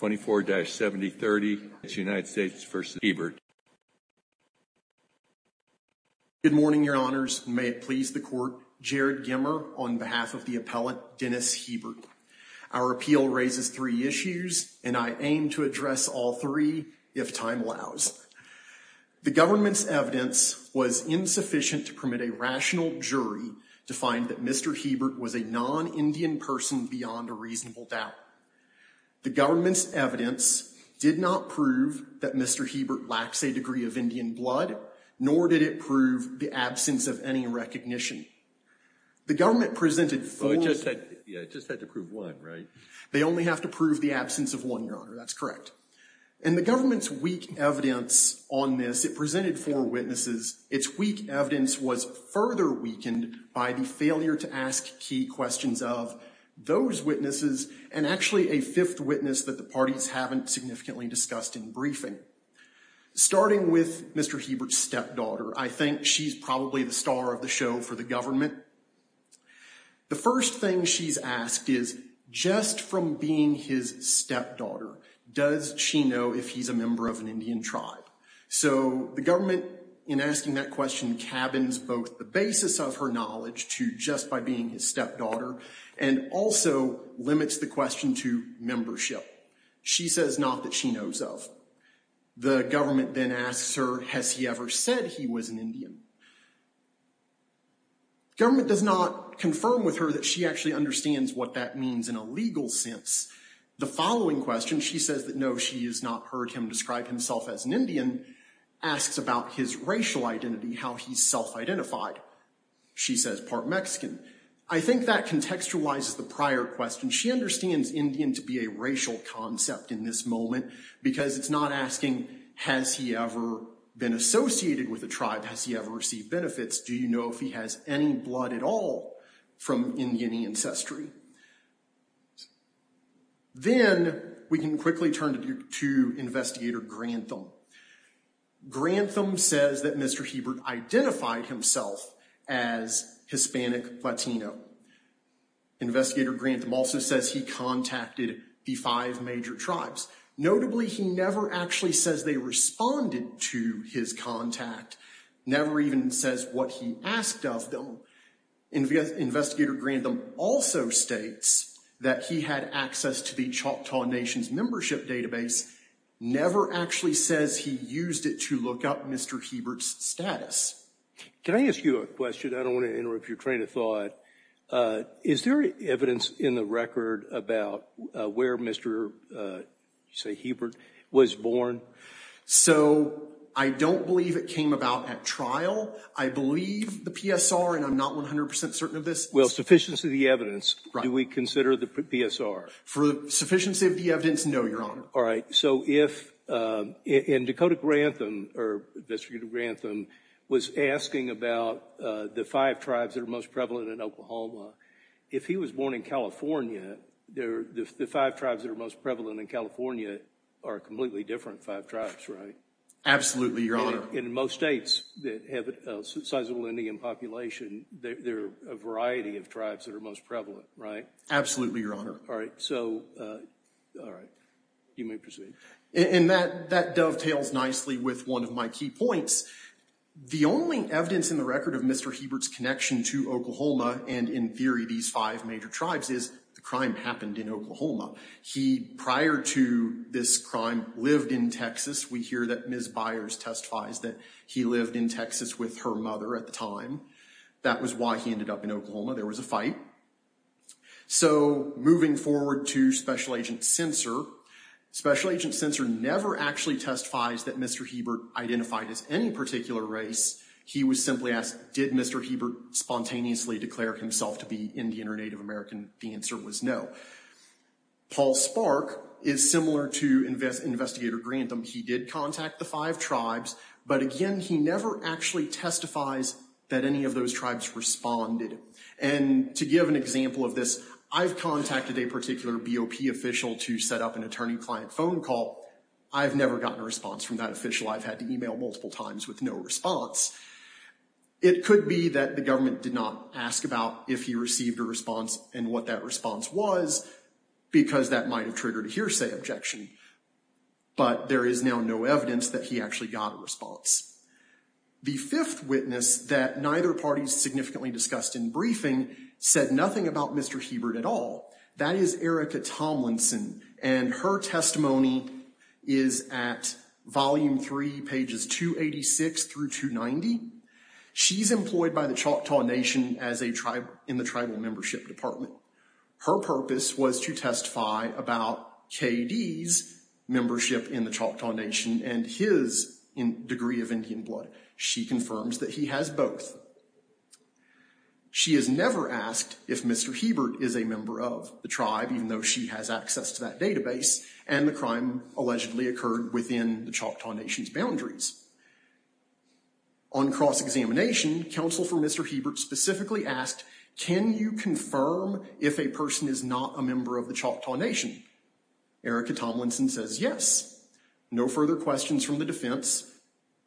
Good morning, your honors. May it please the court, Jared Gemmer on behalf of the appellate Dennis Hebert. Our appeal raises three issues, and I aim to address all three, if time allows. The government's evidence was insufficient to permit a rational jury to find that Mr. Hebert is an Indian person beyond a reasonable doubt. The government's evidence did not prove that Mr. Hebert lacks a degree of Indian blood, nor did it prove the absence of any recognition. The government presented four... Well, it just had to prove one, right? They only have to prove the absence of one, your honor. That's correct. And the government's weak evidence on this, it presented four witnesses. Its weak evidence was further weakened by the failure to ask key questions of those witnesses, and actually a fifth witness that the parties haven't significantly discussed in briefing. Starting with Mr. Hebert's stepdaughter, I think she's probably the star of the show for the government. The first thing she's asked is, just from being his stepdaughter, does she know if he's a member of an Indian community? And also limits the question to membership. She says not that she knows of. The government then asks her, has he ever said he was an Indian? The government does not confirm with her that she actually understands what that means in a legal sense. The following question, she says that no, she has not heard him describe himself as an Indian, asks about his racial identity, how he's self-identified. She says part Mexican. I think that contextualizes the prior question. She understands Indian to be a racial concept in this moment because it's not asking, has he ever been associated with a tribe? Has he ever received benefits? Do you know if he has any blood at all from Indian ancestry? Then we can quickly turn to Investigator Grantham. Grantham says that Mr. Hebert identified himself as Hispanic Latino. Investigator Grantham also says he contacted the five major tribes. Notably, he never actually says they responded to his contact, never even says what he asked of them. Investigator Grantham also states that he had access to the Choctaw Nation's membership database, never actually says he used it to look up Mr. Hebert's status. Can I ask you a question? I don't want to interrupt your train of thought. Is there evidence in the record about where Mr. Hebert was born? So I don't believe it came about at trial. I believe the PSR, and I'm not 100% certain of this. Well, sufficiency of the evidence, do we consider the PSR? For sufficiency of the evidence, no, Your Honor. All right. So if, and Dakota Grantham, or Investigator Grantham, was asking about the five tribes that are most prevalent in Oklahoma. If he was born in California, the five tribes that are most prevalent in California are completely different, five tribes, right? Absolutely, Your Honor. In most states that have a sizable Indian population, there are a variety of tribes that are most prevalent, right? Absolutely, Your Honor. All right. So, all right. You may proceed. And that dovetails nicely with one of my key points. The only evidence in the record of Mr. Hebert's connection to Oklahoma, and in theory, these five major tribes, is the time happened in Oklahoma. He, prior to this crime, lived in Texas. We hear that Ms. Byers testifies that he lived in Texas with her mother at the time. That was why he ended up in Oklahoma. There was a fight. So moving forward to Special Agent Sincer, Special Agent Sincer never actually testifies that Mr. Hebert identified as any particular race. He was simply asked, did Mr. Hebert spontaneously declare himself to be Indian or Native American? The answer was no. Paul Spark is similar to Investigator Grantham. He did contact the five tribes, but again, he never actually testifies that any of those tribes responded. And to give an example of this, I've contacted a particular BOP official to set up an attorney-client phone call. I've never gotten a response from that official. I've had to email multiple times with no response. It could be that the government did not ask about if he received a response and what that response was, because that might have triggered a hearsay objection. But there is now no evidence that he actually got a response. The fifth witness that neither party significantly discussed in briefing said nothing about Mr. Hebert at all. That is Erica Tomlinson, and her testimony is at volume three, pages 286 through 290. She's employed by the Choctaw Nation in the Tribal Membership Department. Her purpose was to testify about KD's membership in the Choctaw Nation and his degree of Indian blood. She confirms that he has both. She has never asked if Mr. Hebert is a member of the tribe, even though she has access to that database, and the crime allegedly occurred within the Choctaw Nation's boundaries. On cross-examination, counsel for Mr. Hebert specifically asked, can you confirm if a person is not a member of the Choctaw Nation? Erica Tomlinson says yes. No further questions from the defense.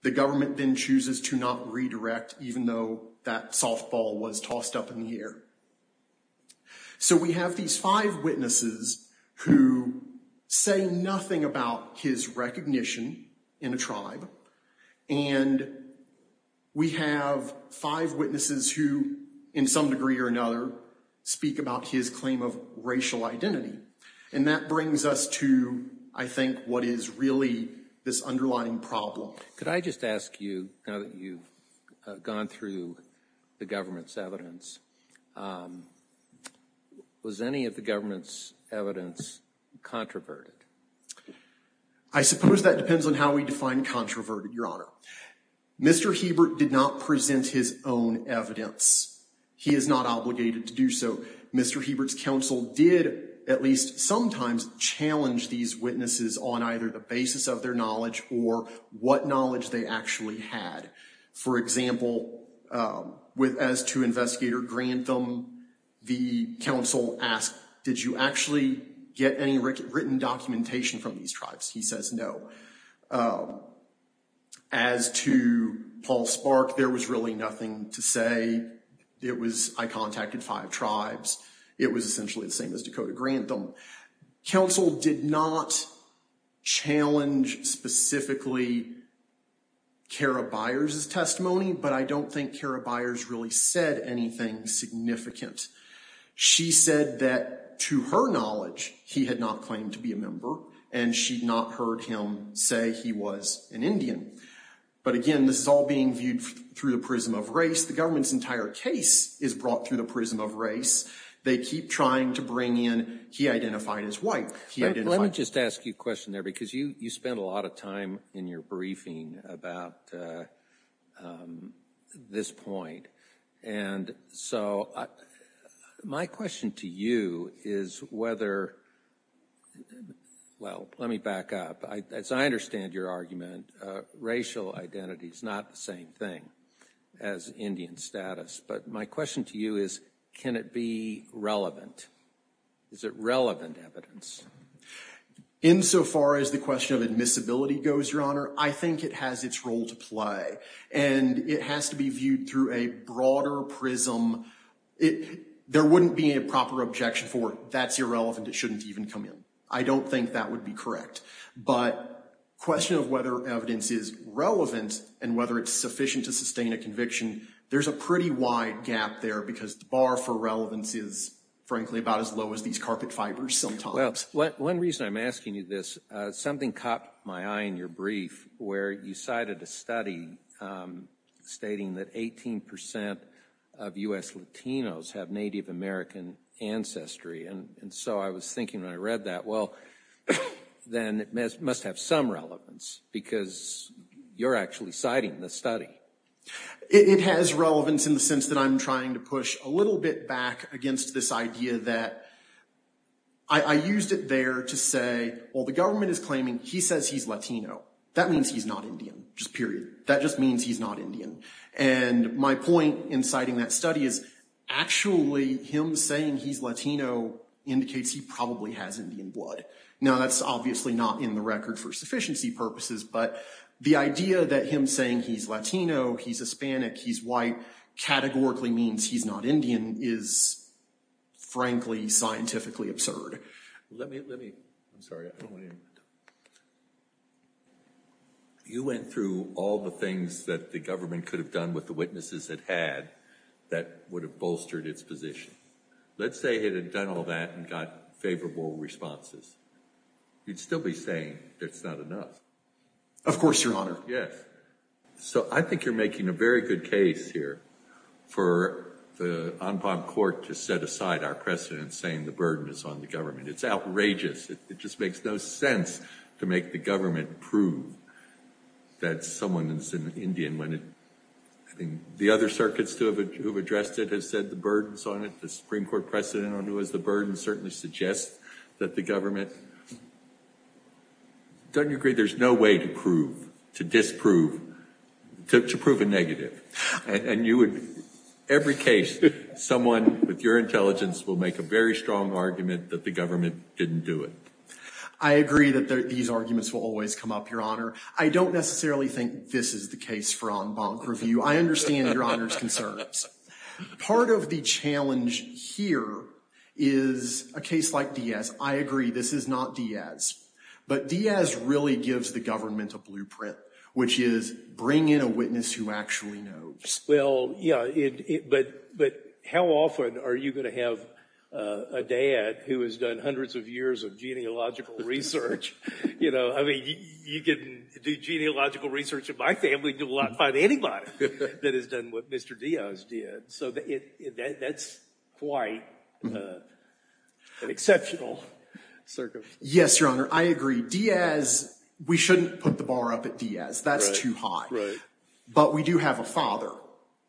The government then chooses to not redirect, even though that softball was tossed up in the air. So we have these five witnesses who say nothing about his recognition in a tribe, and we have five witnesses who, in some degree or another, speak about his claim of racial identity. And that brings us to, I think, what is really this underlying problem. Could I just ask you, now that you've gone through the government's evidence, was any of the government's evidence controverted? I suppose that depends on how we define controverted, Your Honor. Mr. Hebert did not present his own evidence. He is not obligated to do so. Mr. Hebert's counsel did, at least sometimes, challenge these witnesses on either the basis of their knowledge or what knowledge they actually had. For example, as to Investigator Grantham, the counsel asked, did you actually get any written documentation from these tribes? He says no. As to Paul Spark, there was really nothing to say. I contacted five tribes. It was essentially the same as Dakota Grantham. Counsel did not challenge specifically Kara Byers' testimony, but I don't think Kara Byers really said anything significant. She said that, to her knowledge, he had not claimed to be a member, and she'd not heard him say he was an Indian. But again, this is all being viewed through the prism of race. The government's entire case is brought through the prism of race. They keep trying to bring in, he identified as white. Let me just ask you a question there, because you spent a lot of time in your briefing about this point. And so my question to you is whether, well, let me back up. As I understand your argument, racial identity is not the same thing as Indian status. But my question to you is, can it be relevant? Is it relevant evidence? Insofar as the question of admissibility goes, Your Honor, I think it has its role to play. And it has to be viewed through a broader prism. There wouldn't be a proper objection for it. I don't think that would be correct. But the question of whether evidence is relevant and whether it's sufficient to sustain a conviction, there's a pretty wide gap there, because the bar for relevance is, frankly, about as low as these carpet fibers sometimes. Well, one reason I'm asking you this, something caught my eye in your brief, where you cited a study stating that 18% of U.S. Latinos have Native American ancestry. And so I was thinking when I read that, well, then it must have some relevance, because you're actually citing this study. It has relevance in the sense that I'm trying to push a little bit back against this idea that I used it there to say, well, the government is claiming he says he's Latino. That means he's not Indian. Just period. That just means he's not Indian. And my point in citing that study is, actually, him saying he's Latino indicates he probably has Indian blood. Now, that's obviously not in the record for sufficiency purposes. But the idea that him saying he's Latino, he's Hispanic, he's white, categorically means he's not Indian is, frankly, scientifically absurd. Let me, let me, I'm sorry. You went through all the things that the government could have done with the witnesses it had that would have bolstered its position. Let's say it had done all that and got favorable responses. You'd still be saying it's not enough. Of course, Your Honor. Yes. So I think you're making a very good case here for the En Palm Court to set aside our precedent saying the burden is on the government. It's outrageous. It just makes no sense to make the government prove that someone is an Indian when it, I think the other circuits who have addressed it have said the burden is on it. The Supreme Court precedent on who has the burden certainly suggests that the government, don't you agree there's no way to prove, to disprove, to prove a negative. And you would, every case, someone with your intelligence will make a very strong argument that the government didn't do it. I agree that these arguments will always come up, Your Honor. I don't necessarily think this is the case for en banc review. I understand Your Honor's concerns. Part of the challenge here is a case like Diaz. I agree this is not Diaz. But Diaz really gives the government a blueprint, which is bring in a witness who actually knows. Well, yeah, but how often are you going to have a dad who has done hundreds of years of genealogical research? You know, I mean, you can do genealogical research in my family, you will not find anybody that has done what Mr. Diaz did. So that's quite an exceptional circumstance. Yes, Your Honor, I agree. Diaz, we shouldn't put the bar up at Diaz. That's too high. But we do have a father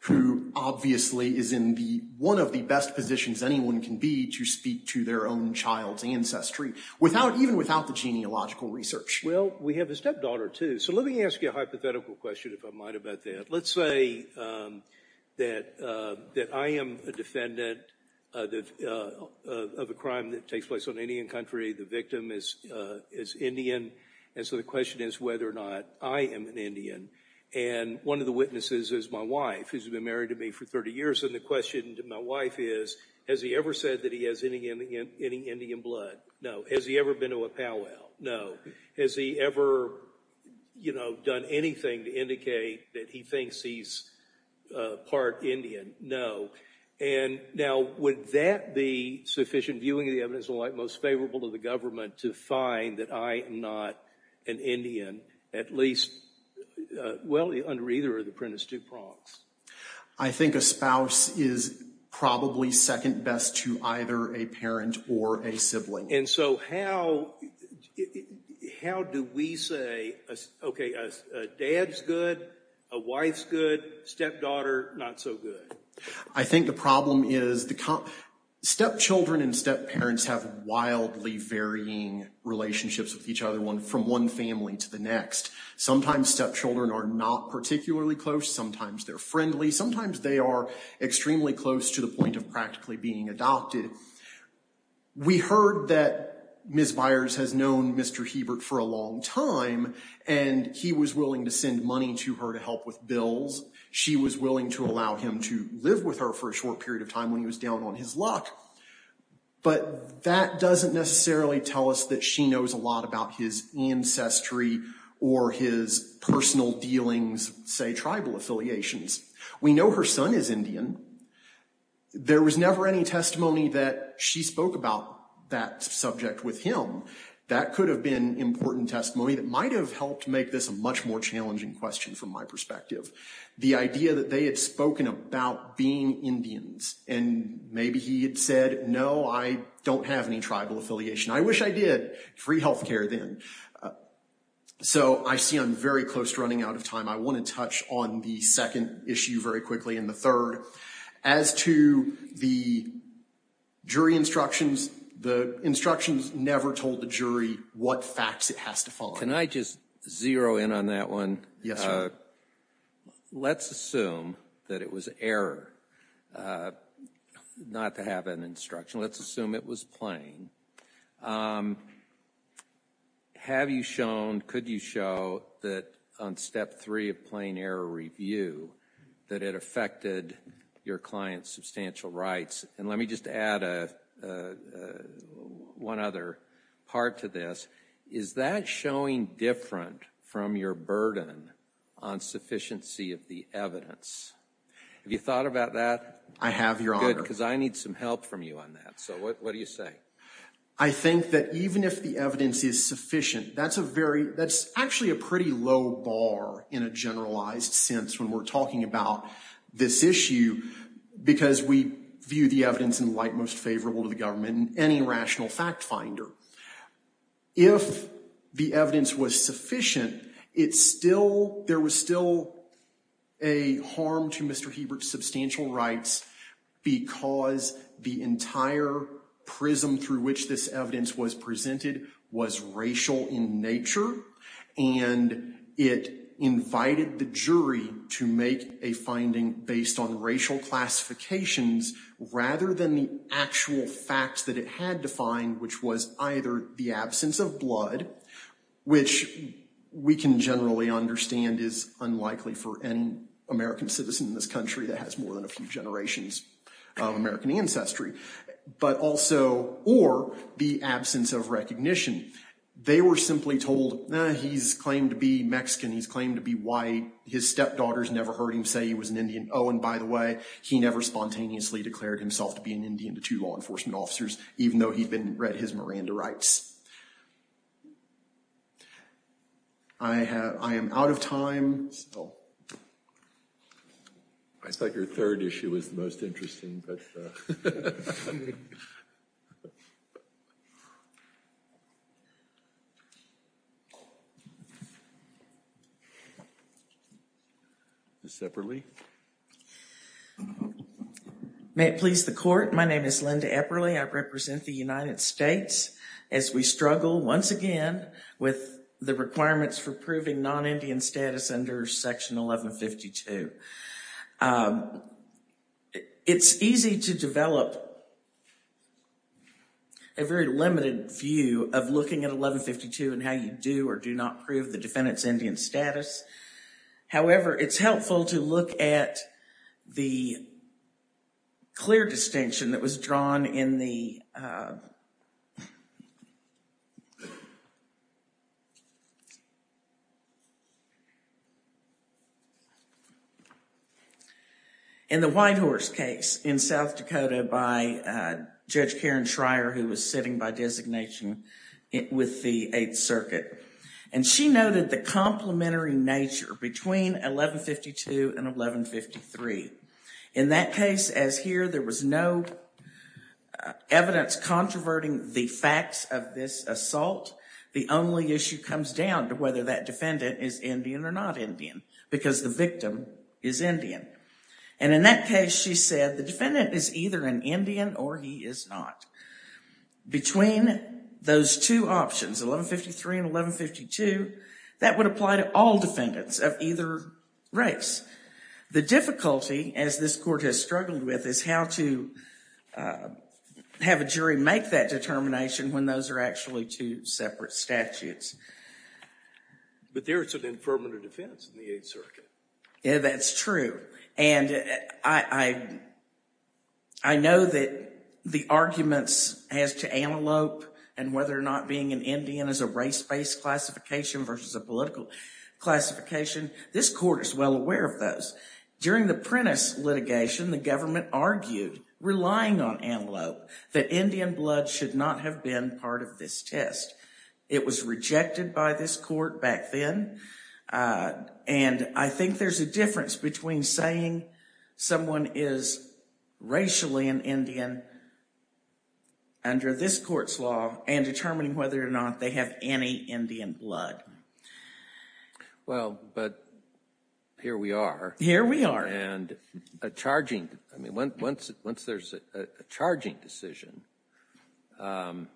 who obviously is in one of the best positions anyone can be to speak to their own child's ancestry, even without the genealogical research. Well, we have a stepdaughter, too. So let me ask you a hypothetical question, if I might, about that. Let's say that I am a defendant of a crime that takes place on Indian country. The victim is Indian. And so the question is whether or not I am an Indian. And one of the witnesses is my wife, who's been married to me for 30 years. And the question to my wife is, has he ever said that he has any Indian blood? No. Has he ever been to a powwow? No. Has he ever, you know, done anything to indicate that he thinks he's part Indian? No. And now, would that be sufficient viewing of the evidence and the like most favorable to the government to find that I am not an Indian, at least, well, under either of the Prentiss-Duprox? I think a spouse is probably second best to either a parent or a sibling. And so how do we say, okay, a dad's good, a wife's good, stepdaughter not so good? I think the problem is stepchildren and stepparents have wildly varying relationships with each other, from one family to the next. Sometimes stepchildren are not particularly close. Sometimes they're friendly. Sometimes they are extremely close to the point of practically being adopted. We heard that Ms. Byers has known Mr. Hebert for a long time, and he was willing to send money to her to help with bills. She was willing to allow him to live with her for a short period of time when he was down on his luck. But that doesn't necessarily tell us that she knows a lot about his ancestry or his personal dealings, say, tribal affiliations. We know her son is Indian. There was never any testimony that she spoke about that subject with him. That could have been important testimony that might have helped make this a much more challenging question from my perspective. The idea that they had spoken about being Indians, and maybe he had said, no, I don't have any tribal affiliation. I wish I did. Free health care then. So I see I'm very close to running out of time. I want to touch on the second issue very quickly and the third. As to the jury instructions, the instructions never told the jury what facts it has to follow. Can I just zero in on that one? Yes, sir. Let's assume that it was error not to have an instruction. Let's assume it was plain. Have you shown, could you show that on step three of plain error review that it affected your client's substantial rights? And let me just add one other part to this. Is that showing different from your burden on sufficiency of the evidence? Have you thought about that? I have, Your Honor. Good, because I need some help from you on that. So what do you say? I think that even if the evidence is sufficient, that's a very, that's actually a pretty low bar in a generalized sense when we're talking about this issue, because we view the evidence in the light most favorable to the government in any rational fact finder. If the evidence was sufficient, it's still, there was still a harm to Mr. Hebert's substantial rights because the entire prism through which this evidence was presented was racial in nature. And it invited the jury to make a finding based on racial classifications rather than the actual facts that it had to find, which was either the absence of blood, which we can generally understand is unlikely for an American citizen in this country that has more than a few generations of American ancestry, but also, or the absence of recognition. They were simply told, he's claimed to be Mexican. He's claimed to be white. His stepdaughters never heard him say he was an Indian. Oh, and by the way, he never spontaneously declared himself to be an Indian to two law enforcement officers, even though he'd been read his Miranda rights. I have, I am out of time. I thought your third issue was the most interesting. Ms. Epperle. May it please the court, my name is Linda Epperle. I represent the United States as we struggle once again with the requirements for proving non-Indian status under Section 1152. It's easy to develop a very limited view of looking at 1152 and how you do or do not prove the defendant's Indian status. However, it's helpful to look at the clear distinction that was drawn in the in the Whitehorse case in South Dakota by Judge Karen Schrier, who was sitting by designation with the Eighth Circuit. And she noted the complementary nature between 1152 and 1153. In that case, as here, there was no evidence controverting the facts of this assault. The only issue comes down to whether that defendant is Indian or not Indian, because the victim is Indian. And in that case, she said, the defendant is either an Indian or he is not. Between those two options, 1153 and 1152, that would apply to all defendants of either race. The difficulty, as this court has struggled with, is how to have a jury make that determination when those are actually two separate statutes. But there is an affirmative defense in the Eighth Circuit. Yeah, that's true. And I know that the arguments as to antelope and whether or not being an Indian is a race-based classification versus a political classification, this court is well aware of those. During the Prentiss litigation, the government argued, relying on antelope, that Indian blood should not have been part of this test. It was rejected by this court back then. And I think there's a difference between saying someone is racially an Indian under this court's law and determining whether or not they have any Indian blood. Well, but here we are. Here we are. And a charging, I mean, once there's a charging decision, and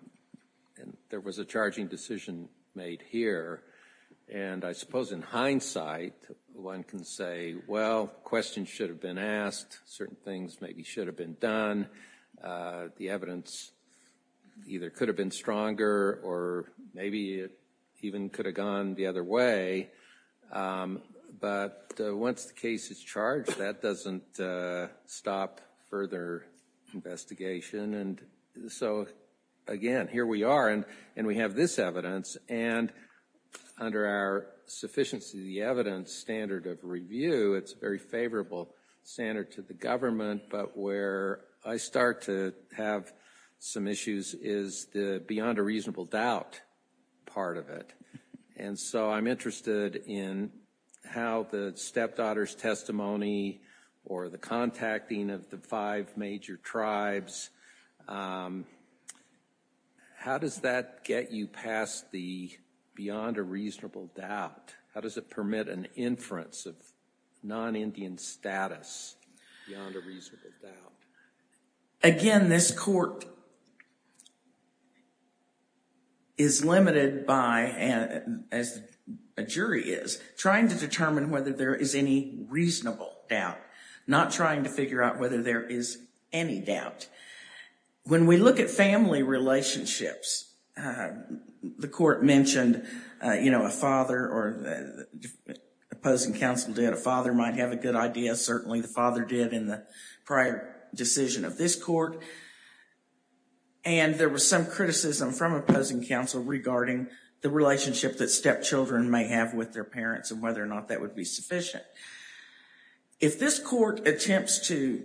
there was a charging decision made here, and I suppose in hindsight, one can say, well, questions should have been asked. Certain things maybe should have been done. The evidence either could have been stronger or maybe it even could have gone the other way. But once the case is charged, that doesn't stop further investigation. And so, again, here we are, and we have this evidence. And under our sufficiency of the evidence standard of review, it's a very favorable standard to the government. But where I start to have some issues is the beyond a reasonable doubt part of it. And so I'm interested in how the stepdaughter's testimony or the contacting of the five major tribes, how does that get you past the beyond a reasonable doubt? How does it permit an inference of non-Indian status beyond a reasonable doubt? Again, this court is limited by, as a jury is, trying to determine whether there is any reasonable doubt, not trying to figure out whether there is any doubt. When we look at family relationships, the court mentioned, you know, a father or the opposing counsel did. A father might have a good idea, certainly the father did in the prior decision of this court. And there was some criticism from opposing counsel regarding the relationship that stepchildren may have with their parents and whether or not that would be sufficient. If this court attempts to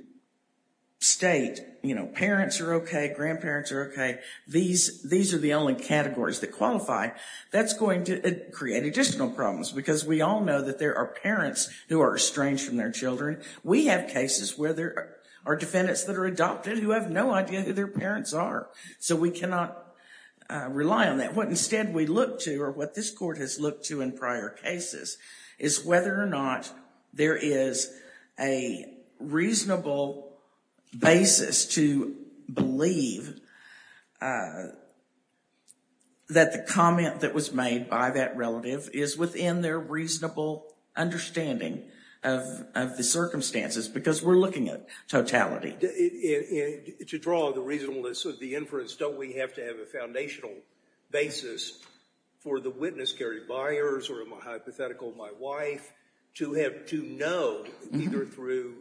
state, you know, parents are okay, grandparents are okay, these are the only categories that qualify, that's going to create additional problems. Because we all know that there are parents who are estranged from their children. We have cases where there are defendants that are adopted who have no idea who their parents are. So we cannot rely on that. And what instead we look to, or what this court has looked to in prior cases, is whether or not there is a reasonable basis to believe that the comment that was made by that relative is within their reasonable understanding of the circumstances. Because we're looking at totality. To draw the reasonableness of the inference, don't we have to have a foundational basis for the witness, Gary Byers, or my hypothetical, my wife, to know either through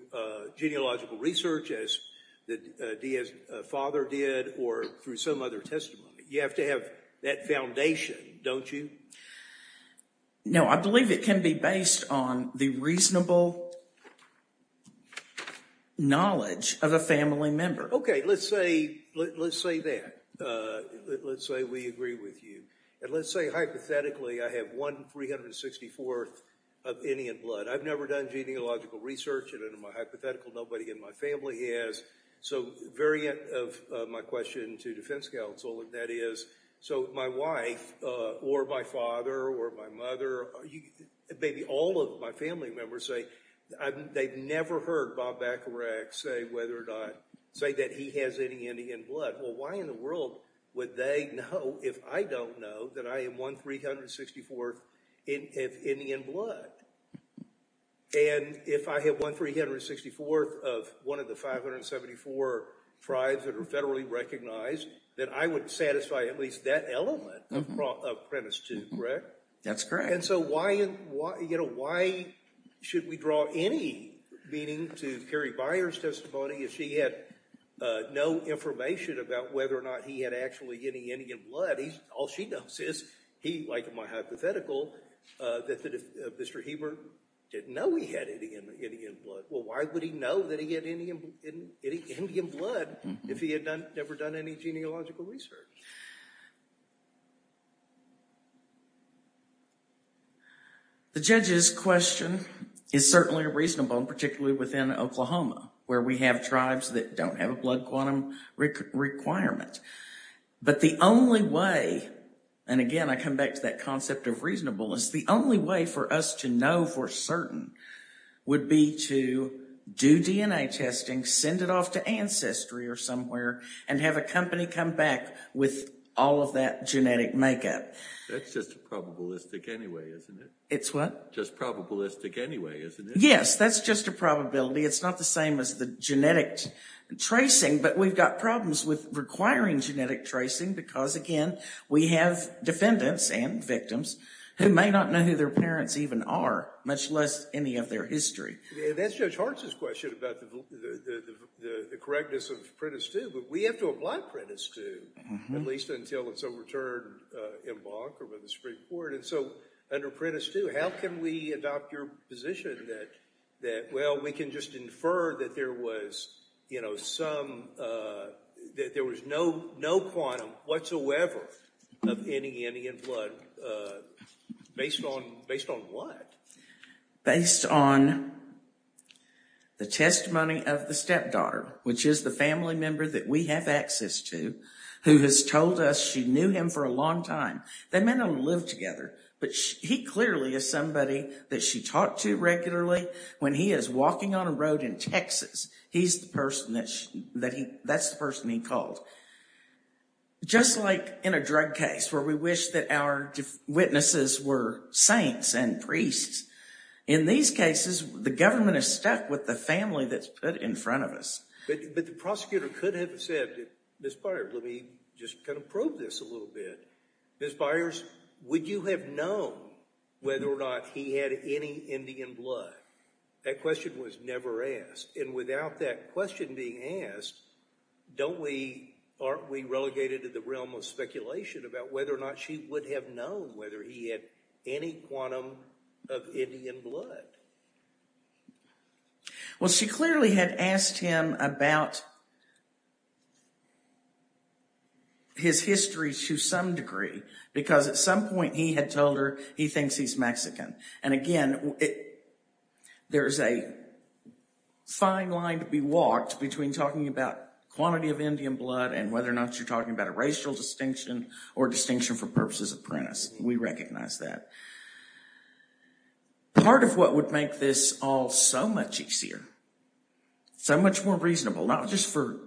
genealogical research as the father did or through some other testimony. You have to have that foundation, don't you? No, I believe it can be based on the reasonable knowledge of a family member. Okay, let's say that. Let's say we agree with you. And let's say hypothetically I have one 364th of Indian blood. I've never done genealogical research, and in my hypothetical nobody in my family has. So variant of my question to defense counsel, and that is, so my wife or my father or my mother, maybe all of my family members say they've never heard Bob Bacharach say whether or not, say that he has any Indian blood. Well, why in the world would they know if I don't know that I have one 364th of Indian blood? And if I have one 364th of one of the 574 tribes that are federally recognized, then I would satisfy at least that element of premise two, correct? That's correct. And so why should we draw any meaning to Carrie Byer's testimony if she had no information about whether or not he had actually any Indian blood? All she knows is, like in my hypothetical, that Mr. Heber didn't know he had Indian blood. Well, why would he know that he had Indian blood if he had never done any genealogical research? The judge's question is certainly reasonable, particularly within Oklahoma, where we have tribes that don't have a blood quantum requirement. But the only way, and again I come back to that concept of reasonableness, the only way for us to know for certain would be to do DNA testing, send it off to ancestry or somewhere, and have a company come back with all of that genetic makeup. That's just probabilistic anyway, isn't it? It's what? Just probabilistic anyway, isn't it? Yes, that's just a probability. It's not the same as the genetic tracing. But we've got problems with requiring genetic tracing because, again, we have defendants and victims who may not know who their parents even are, much less any of their history. That's Judge Hartz's question about the correctness of Prentiss II. But we have to apply Prentiss II, at least until it's overturned in Bonk or by the Supreme Court. And so under Prentiss II, how can we adopt your position that, well, we can just infer that there was no quantum whatsoever of any Indian blood based on what? Based on the testimony of the stepdaughter, which is the family member that we have access to, who has told us she knew him for a long time. They may not have lived together, but he clearly is somebody that she talked to regularly. When he is walking on a road in Texas, that's the person he called. Just like in a drug case where we wish that our witnesses were saints and priests. In these cases, the government is stuck with the family that's put in front of us. But the prosecutor could have said, Ms. Byers, let me just kind of prove this a little bit. Ms. Byers, would you have known whether or not he had any Indian blood? That question was never asked. And without that question being asked, don't we, aren't we relegated to the realm of speculation about whether or not she would have known whether he had any quantum of Indian blood? Well, she clearly had asked him about his history to some degree, because at some point he had told her he thinks he's Mexican. And again, there's a fine line to be walked between talking about quantity of Indian blood and whether or not you're talking about a racial distinction or distinction for purposes of premise. We recognize that. Part of what would make this all so much easier, so much more reasonable, not just for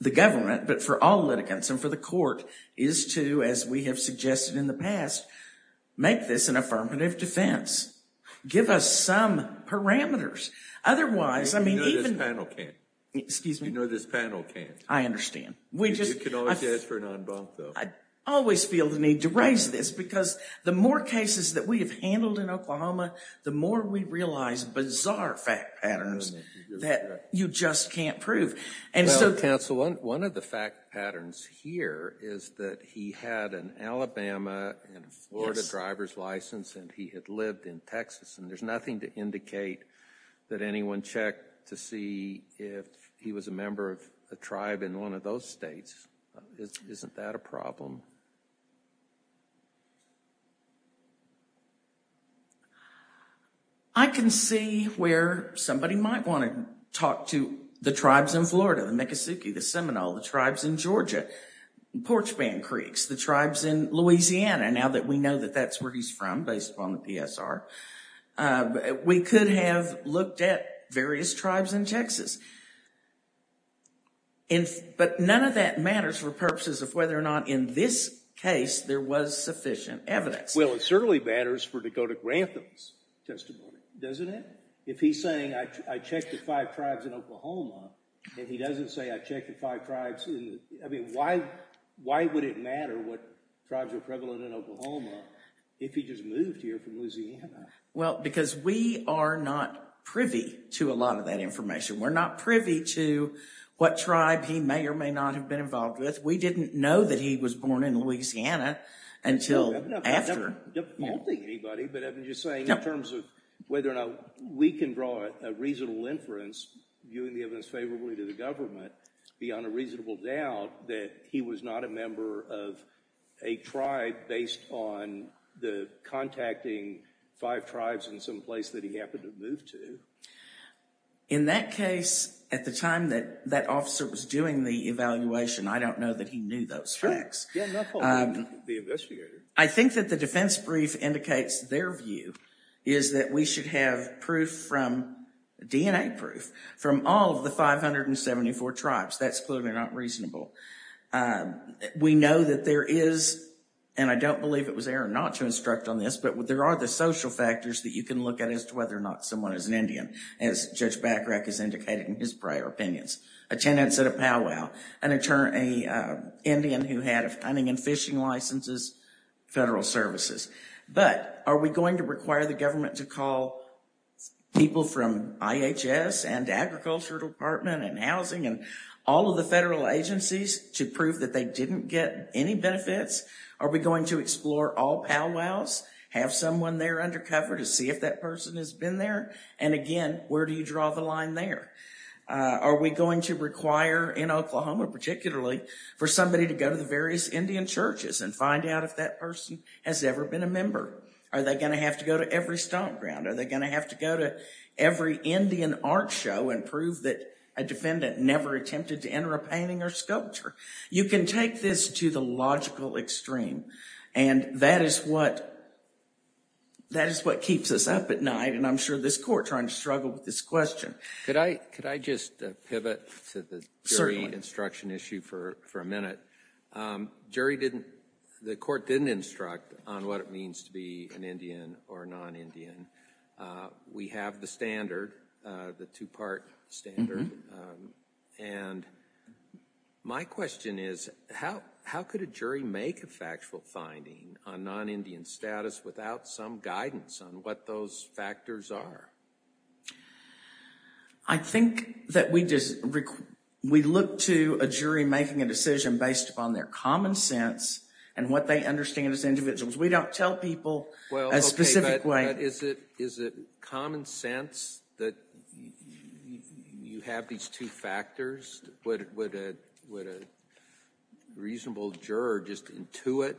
the government, but for all litigants and for the court, is to, as we have suggested in the past, make this an affirmative defense. Give us some parameters. Otherwise, I mean, even... You know this panel can't. Excuse me? You know this panel can't. I understand. You can always ask for an en banc, though. I always feel the need to raise this, because the more cases that we have handled in Oklahoma, the more we realize bizarre fact patterns that you just can't prove. Well, counsel, one of the fact patterns here is that he had an Alabama and Florida driver's license and he had lived in Texas. And there's nothing to indicate that anyone checked to see if he was a member of a tribe in one of those states. Isn't that a problem? I can see where somebody might want to talk to the tribes in Florida, the Miccosukee, the Seminole, the tribes in Georgia, Porch Band Creeks, the tribes in Louisiana, now that we know that that's where he's from, based upon the PSR. We could have looked at various tribes in Texas. But none of that matters for purposes of whether or not in this case there was sufficient evidence. Well, it certainly matters for Dakota Grantham's testimony, doesn't it? If he's saying, I checked at five tribes in Oklahoma, and he doesn't say, I checked at five tribes in... I mean, why would it matter what tribes are prevalent in Oklahoma if he just moved here from Louisiana? Well, because we are not privy to a lot of that information. We're not privy to what tribe he may or may not have been involved with. We didn't know that he was born in Louisiana until after. I'm not defaulting anybody, but I'm just saying in terms of whether or not we can draw a reasonable inference, viewing the evidence favorably to the government, beyond a reasonable doubt, that he was not a member of a tribe based on the contacting five tribes in some place that he happened to have moved to. In that case, at the time that that officer was doing the evaluation, I don't know that he knew those facts. Sure. Yeah, I'm not faulting the investigator. I think that the defense brief indicates their view is that we should have proof from, DNA proof from all of the 574 tribes. That's clearly not reasonable. We know that there is, and I don't believe it was Aaron not to instruct on this, but there are the social factors that you can look at as to whether or not someone is an Indian, as Judge Bacharach has indicated in his prior opinions. A tenant said a powwow, an Indian who had a hunting and fishing licenses, federal services. But are we going to require the government to call people from IHS and agriculture department and housing and all of the federal agencies to prove that they didn't get any benefits? Are we going to explore all powwows, have someone there undercover to see if that person has been there? And again, where do you draw the line there? Are we going to require in Oklahoma particularly for somebody to go to the various Indian churches and find out if that person has ever been a member? Are they going to have to go to every stomp ground? Are they going to have to go to every Indian art show and prove that a defendant never attempted to enter a painting or sculpture? You can take this to the logical extreme, and that is what keeps us up at night, and I'm sure this court is trying to struggle with this question. Could I just pivot to the jury instruction issue for a minute? The court didn't instruct on what it means to be an Indian or non-Indian. We have the standard, the two-part standard. And my question is, how could a jury make a factual finding on non-Indian status without some guidance on what those factors are? I think that we look to a jury making a decision based upon their common sense and what they understand as individuals. We don't tell people a specific way. But is it common sense that you have these two factors? Would a reasonable juror just intuit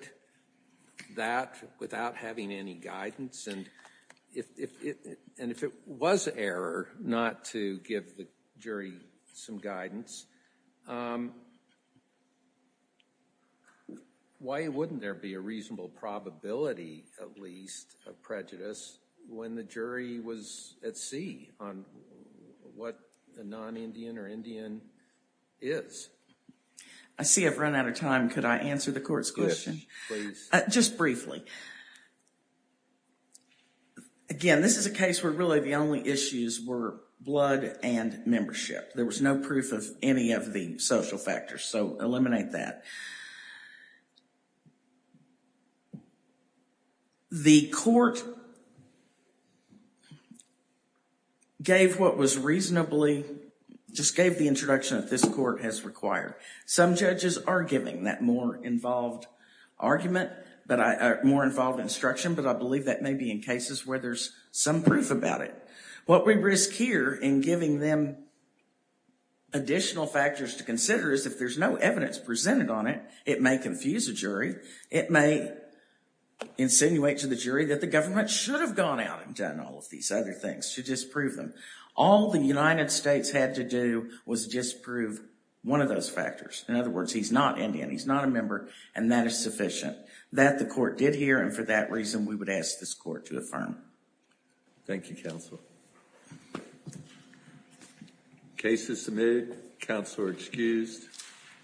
that without having any guidance? And if it was error not to give the jury some guidance, why wouldn't there be a reasonable probability, at least, of prejudice when the jury was at sea on what a non-Indian or Indian is? I see I've run out of time. Could I answer the court's question? Yes, please. Just briefly. Again, this is a case where really the only issues were blood and membership. There was no proof of any of the social factors, so eliminate that. The court gave what was reasonably, just gave the introduction that this court has required. Some judges are giving that more involved instruction, but I believe that may be in cases where there's some proof about it. What we risk here in giving them additional factors to consider is if there's no evidence presented on it, it may confuse a jury. It may insinuate to the jury that the government should have gone out and done all of these other things to disprove them. All the United States had to do was disprove one of those factors. In other words, he's not Indian, he's not a member, and that is sufficient. That the court did here, and for that reason we would ask this court to affirm. Thank you, Counsel. Case is submitted. Counsel are excused.